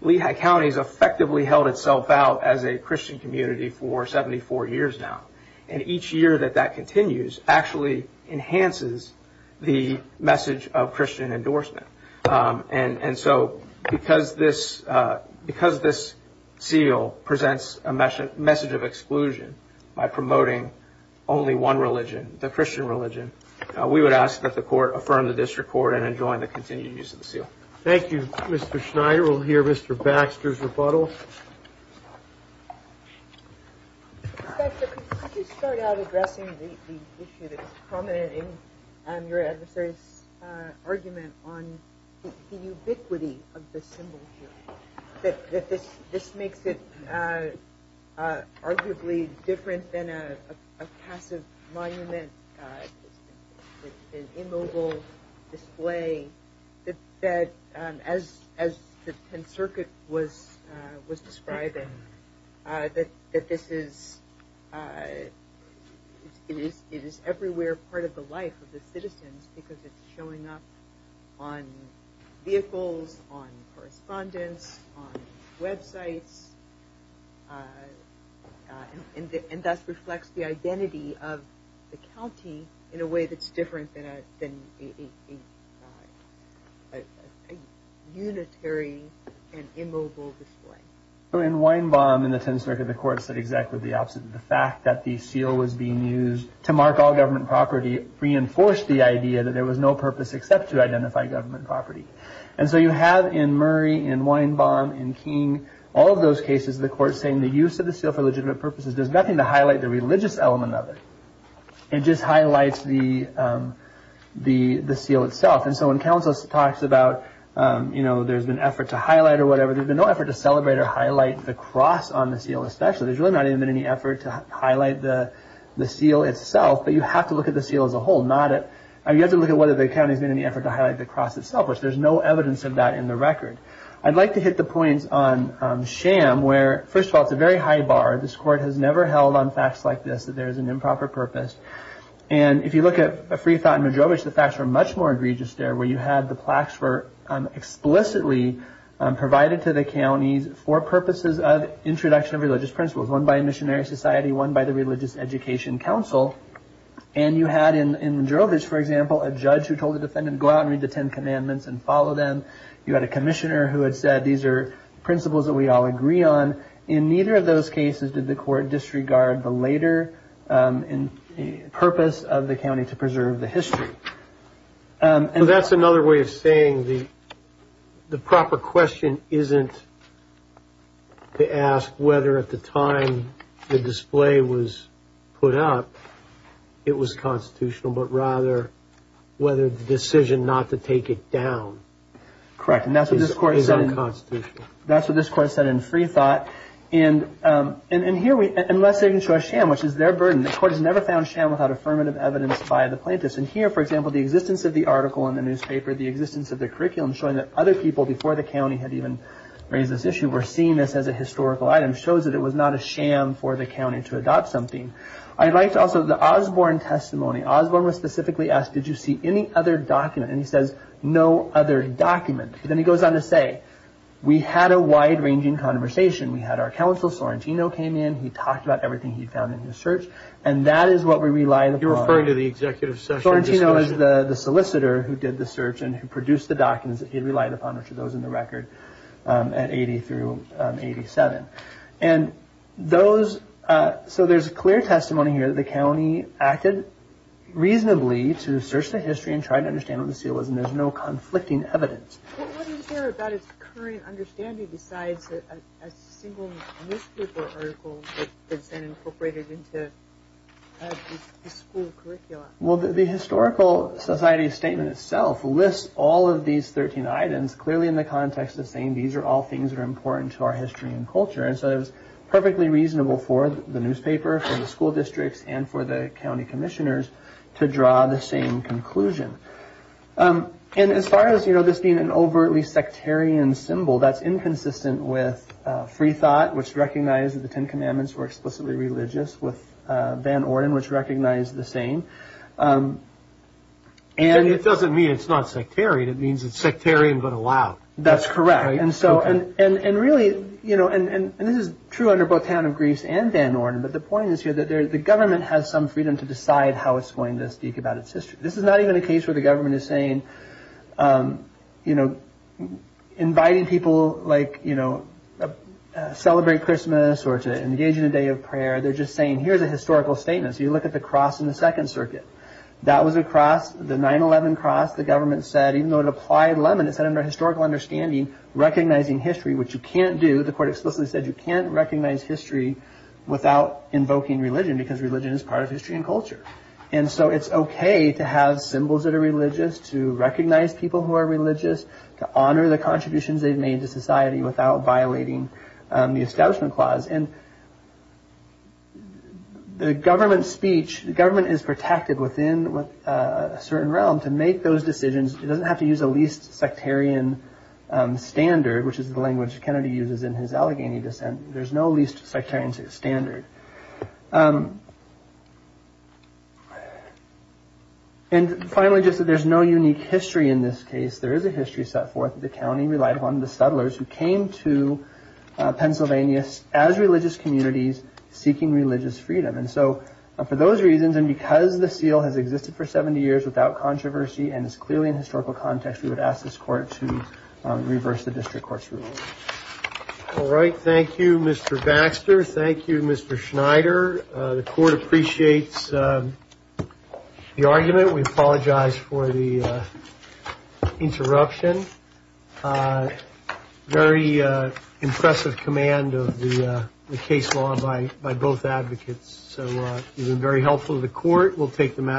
Lehigh County has effectively held itself out as a Christian community for 74 years now. And each year that that continues actually enhances the message of Christian endorsement. And so, because this seal presents a message of exclusion by promoting only one religion, the Christian religion, we would ask that the court affirm the district court and enjoin the continued use of the seal. Thank you, Mr. Schneider. We'll hear Mr. Baxter's rebuttal. Inspector, could you start out addressing the issue that's prominent in your adversary's argument on the ubiquity of the symbol here? That this makes it arguably different than a passive monument, an immobile display, that as the 10th Circuit was describing, that this is everywhere part of the life of the citizens because it's showing up on vehicles, on of the county in a way that's different than a unitary and immobile display. So, in Weinbaum, in the 10th Circuit, the court said exactly the opposite. The fact that the seal was being used to mark all government property reinforced the idea that there was no purpose except to identify government property. And so, you have in Murray, in Weinbaum, in King, all of those cases, the court saying the use of the seal for legitimate purposes does nothing to highlight the religious element of it. It just highlights the seal itself. And so, when counsel talks about there's been effort to highlight or whatever, there's been no effort to celebrate or highlight the cross on the seal, especially. There's really not even been any effort to highlight the seal itself, but you have to look at the seal as a whole. You have to look at whether the county's made any effort to highlight the cross itself, which there's no evidence of that in the record. I'd like to hit the points on sham where, first of all, it's a very high bar. This court has never held on facts like this, that there is an improper purpose. And if you look at a free thought in Madrovich, the facts were much more egregious there, where you had the plaques were explicitly provided to the counties for purposes of introduction of religious principles, one by a missionary society, one by the Religious Education Council. And you had in Madrovich, for example, a judge who told the defendant, go out and read the Ten Commandments and follow them. You had a commissioner who had said, these are principles that we all agree on. In neither of those cases did the court disregard the later purpose of the county to preserve the history. So that's another way of saying the proper question isn't to ask whether at the time the display was put up, it was constitutional, but rather whether the decision not to take it down is unconstitutional. That's what this court said in free thought. And here, unless they can show a sham, which is their burden, the court has never found sham without affirmative evidence by the plaintiffs. And here, for example, the existence of the article in the newspaper, the existence of the curriculum showing that other people before the county had even raised this issue were seeing this as a historical item, shows that it was not a sham for the county to adopt something. I'd like to also, the Osborne testimony, Osborne was specifically asked, did you see any other documents? Then he goes on to say, we had a wide ranging conversation. We had our counsel, Sorrentino came in, he talked about everything he'd found in his search, and that is what we relied upon. You're referring to the executive session? Sorrentino is the solicitor who did the search and who produced the documents that he relied upon, which are those in the record at 80 through 87. And those, so there's clear testimony here that the county acted reasonably to search the history and try to understand what the seal was, there's no conflicting evidence. What do you hear about its current understanding besides a single newspaper article that's been incorporated into the school curriculum? Well, the historical society statement itself lists all of these 13 items clearly in the context of saying these are all things that are important to our history and culture. And so it was perfectly reasonable for the newspaper, for the school districts, and for the county to make that same conclusion. And as far as this being an overtly sectarian symbol, that's inconsistent with Free Thought, which recognized the Ten Commandments were explicitly religious, with Van Orden, which recognized the same. And it doesn't mean it's not sectarian, it means it's sectarian but allowed. That's correct. And really, and this is true under both Town of Greece and Van Orden, but the point is here that the government has some freedom to decide how it's going to speak about its history. This is not even a case where the government is saying, inviting people to celebrate Christmas or to engage in a day of prayer, they're just saying, here's a historical statement. So you look at the cross in the Second Circuit. That was a cross, the 9-11 cross, the government said, even though it applied lemon, it said under historical understanding, recognizing history, which you can't do. The court explicitly said you can't recognize history without invoking religion because religion is part of history and culture. And so it's OK to have symbols that are religious, to recognize people who are religious, to honor the contributions they've made to society without violating the Establishment Clause. And the government speech, the government is protected within a certain realm to make those decisions. It doesn't have to use a least sectarian standard, which is the language Kennedy uses in his Allegheny dissent. There's no least sectarian standard. And finally, just that there's no unique history in this case. There is a history set forth that the county relied upon the settlers who came to Pennsylvania as religious communities seeking religious freedom. And so for those reasons, and because the seal has existed for 70 years without controversy and is clearly in historical context, we would ask this court to reverse the district court's ruling. All right. Thank you, Mr. Baxter. Thank you, Mr. Schneider. The court appreciates the argument. We apologize for the interruption. Very impressive command of the case law by both advocates. So you've been very helpful to the court. We'll take the matter.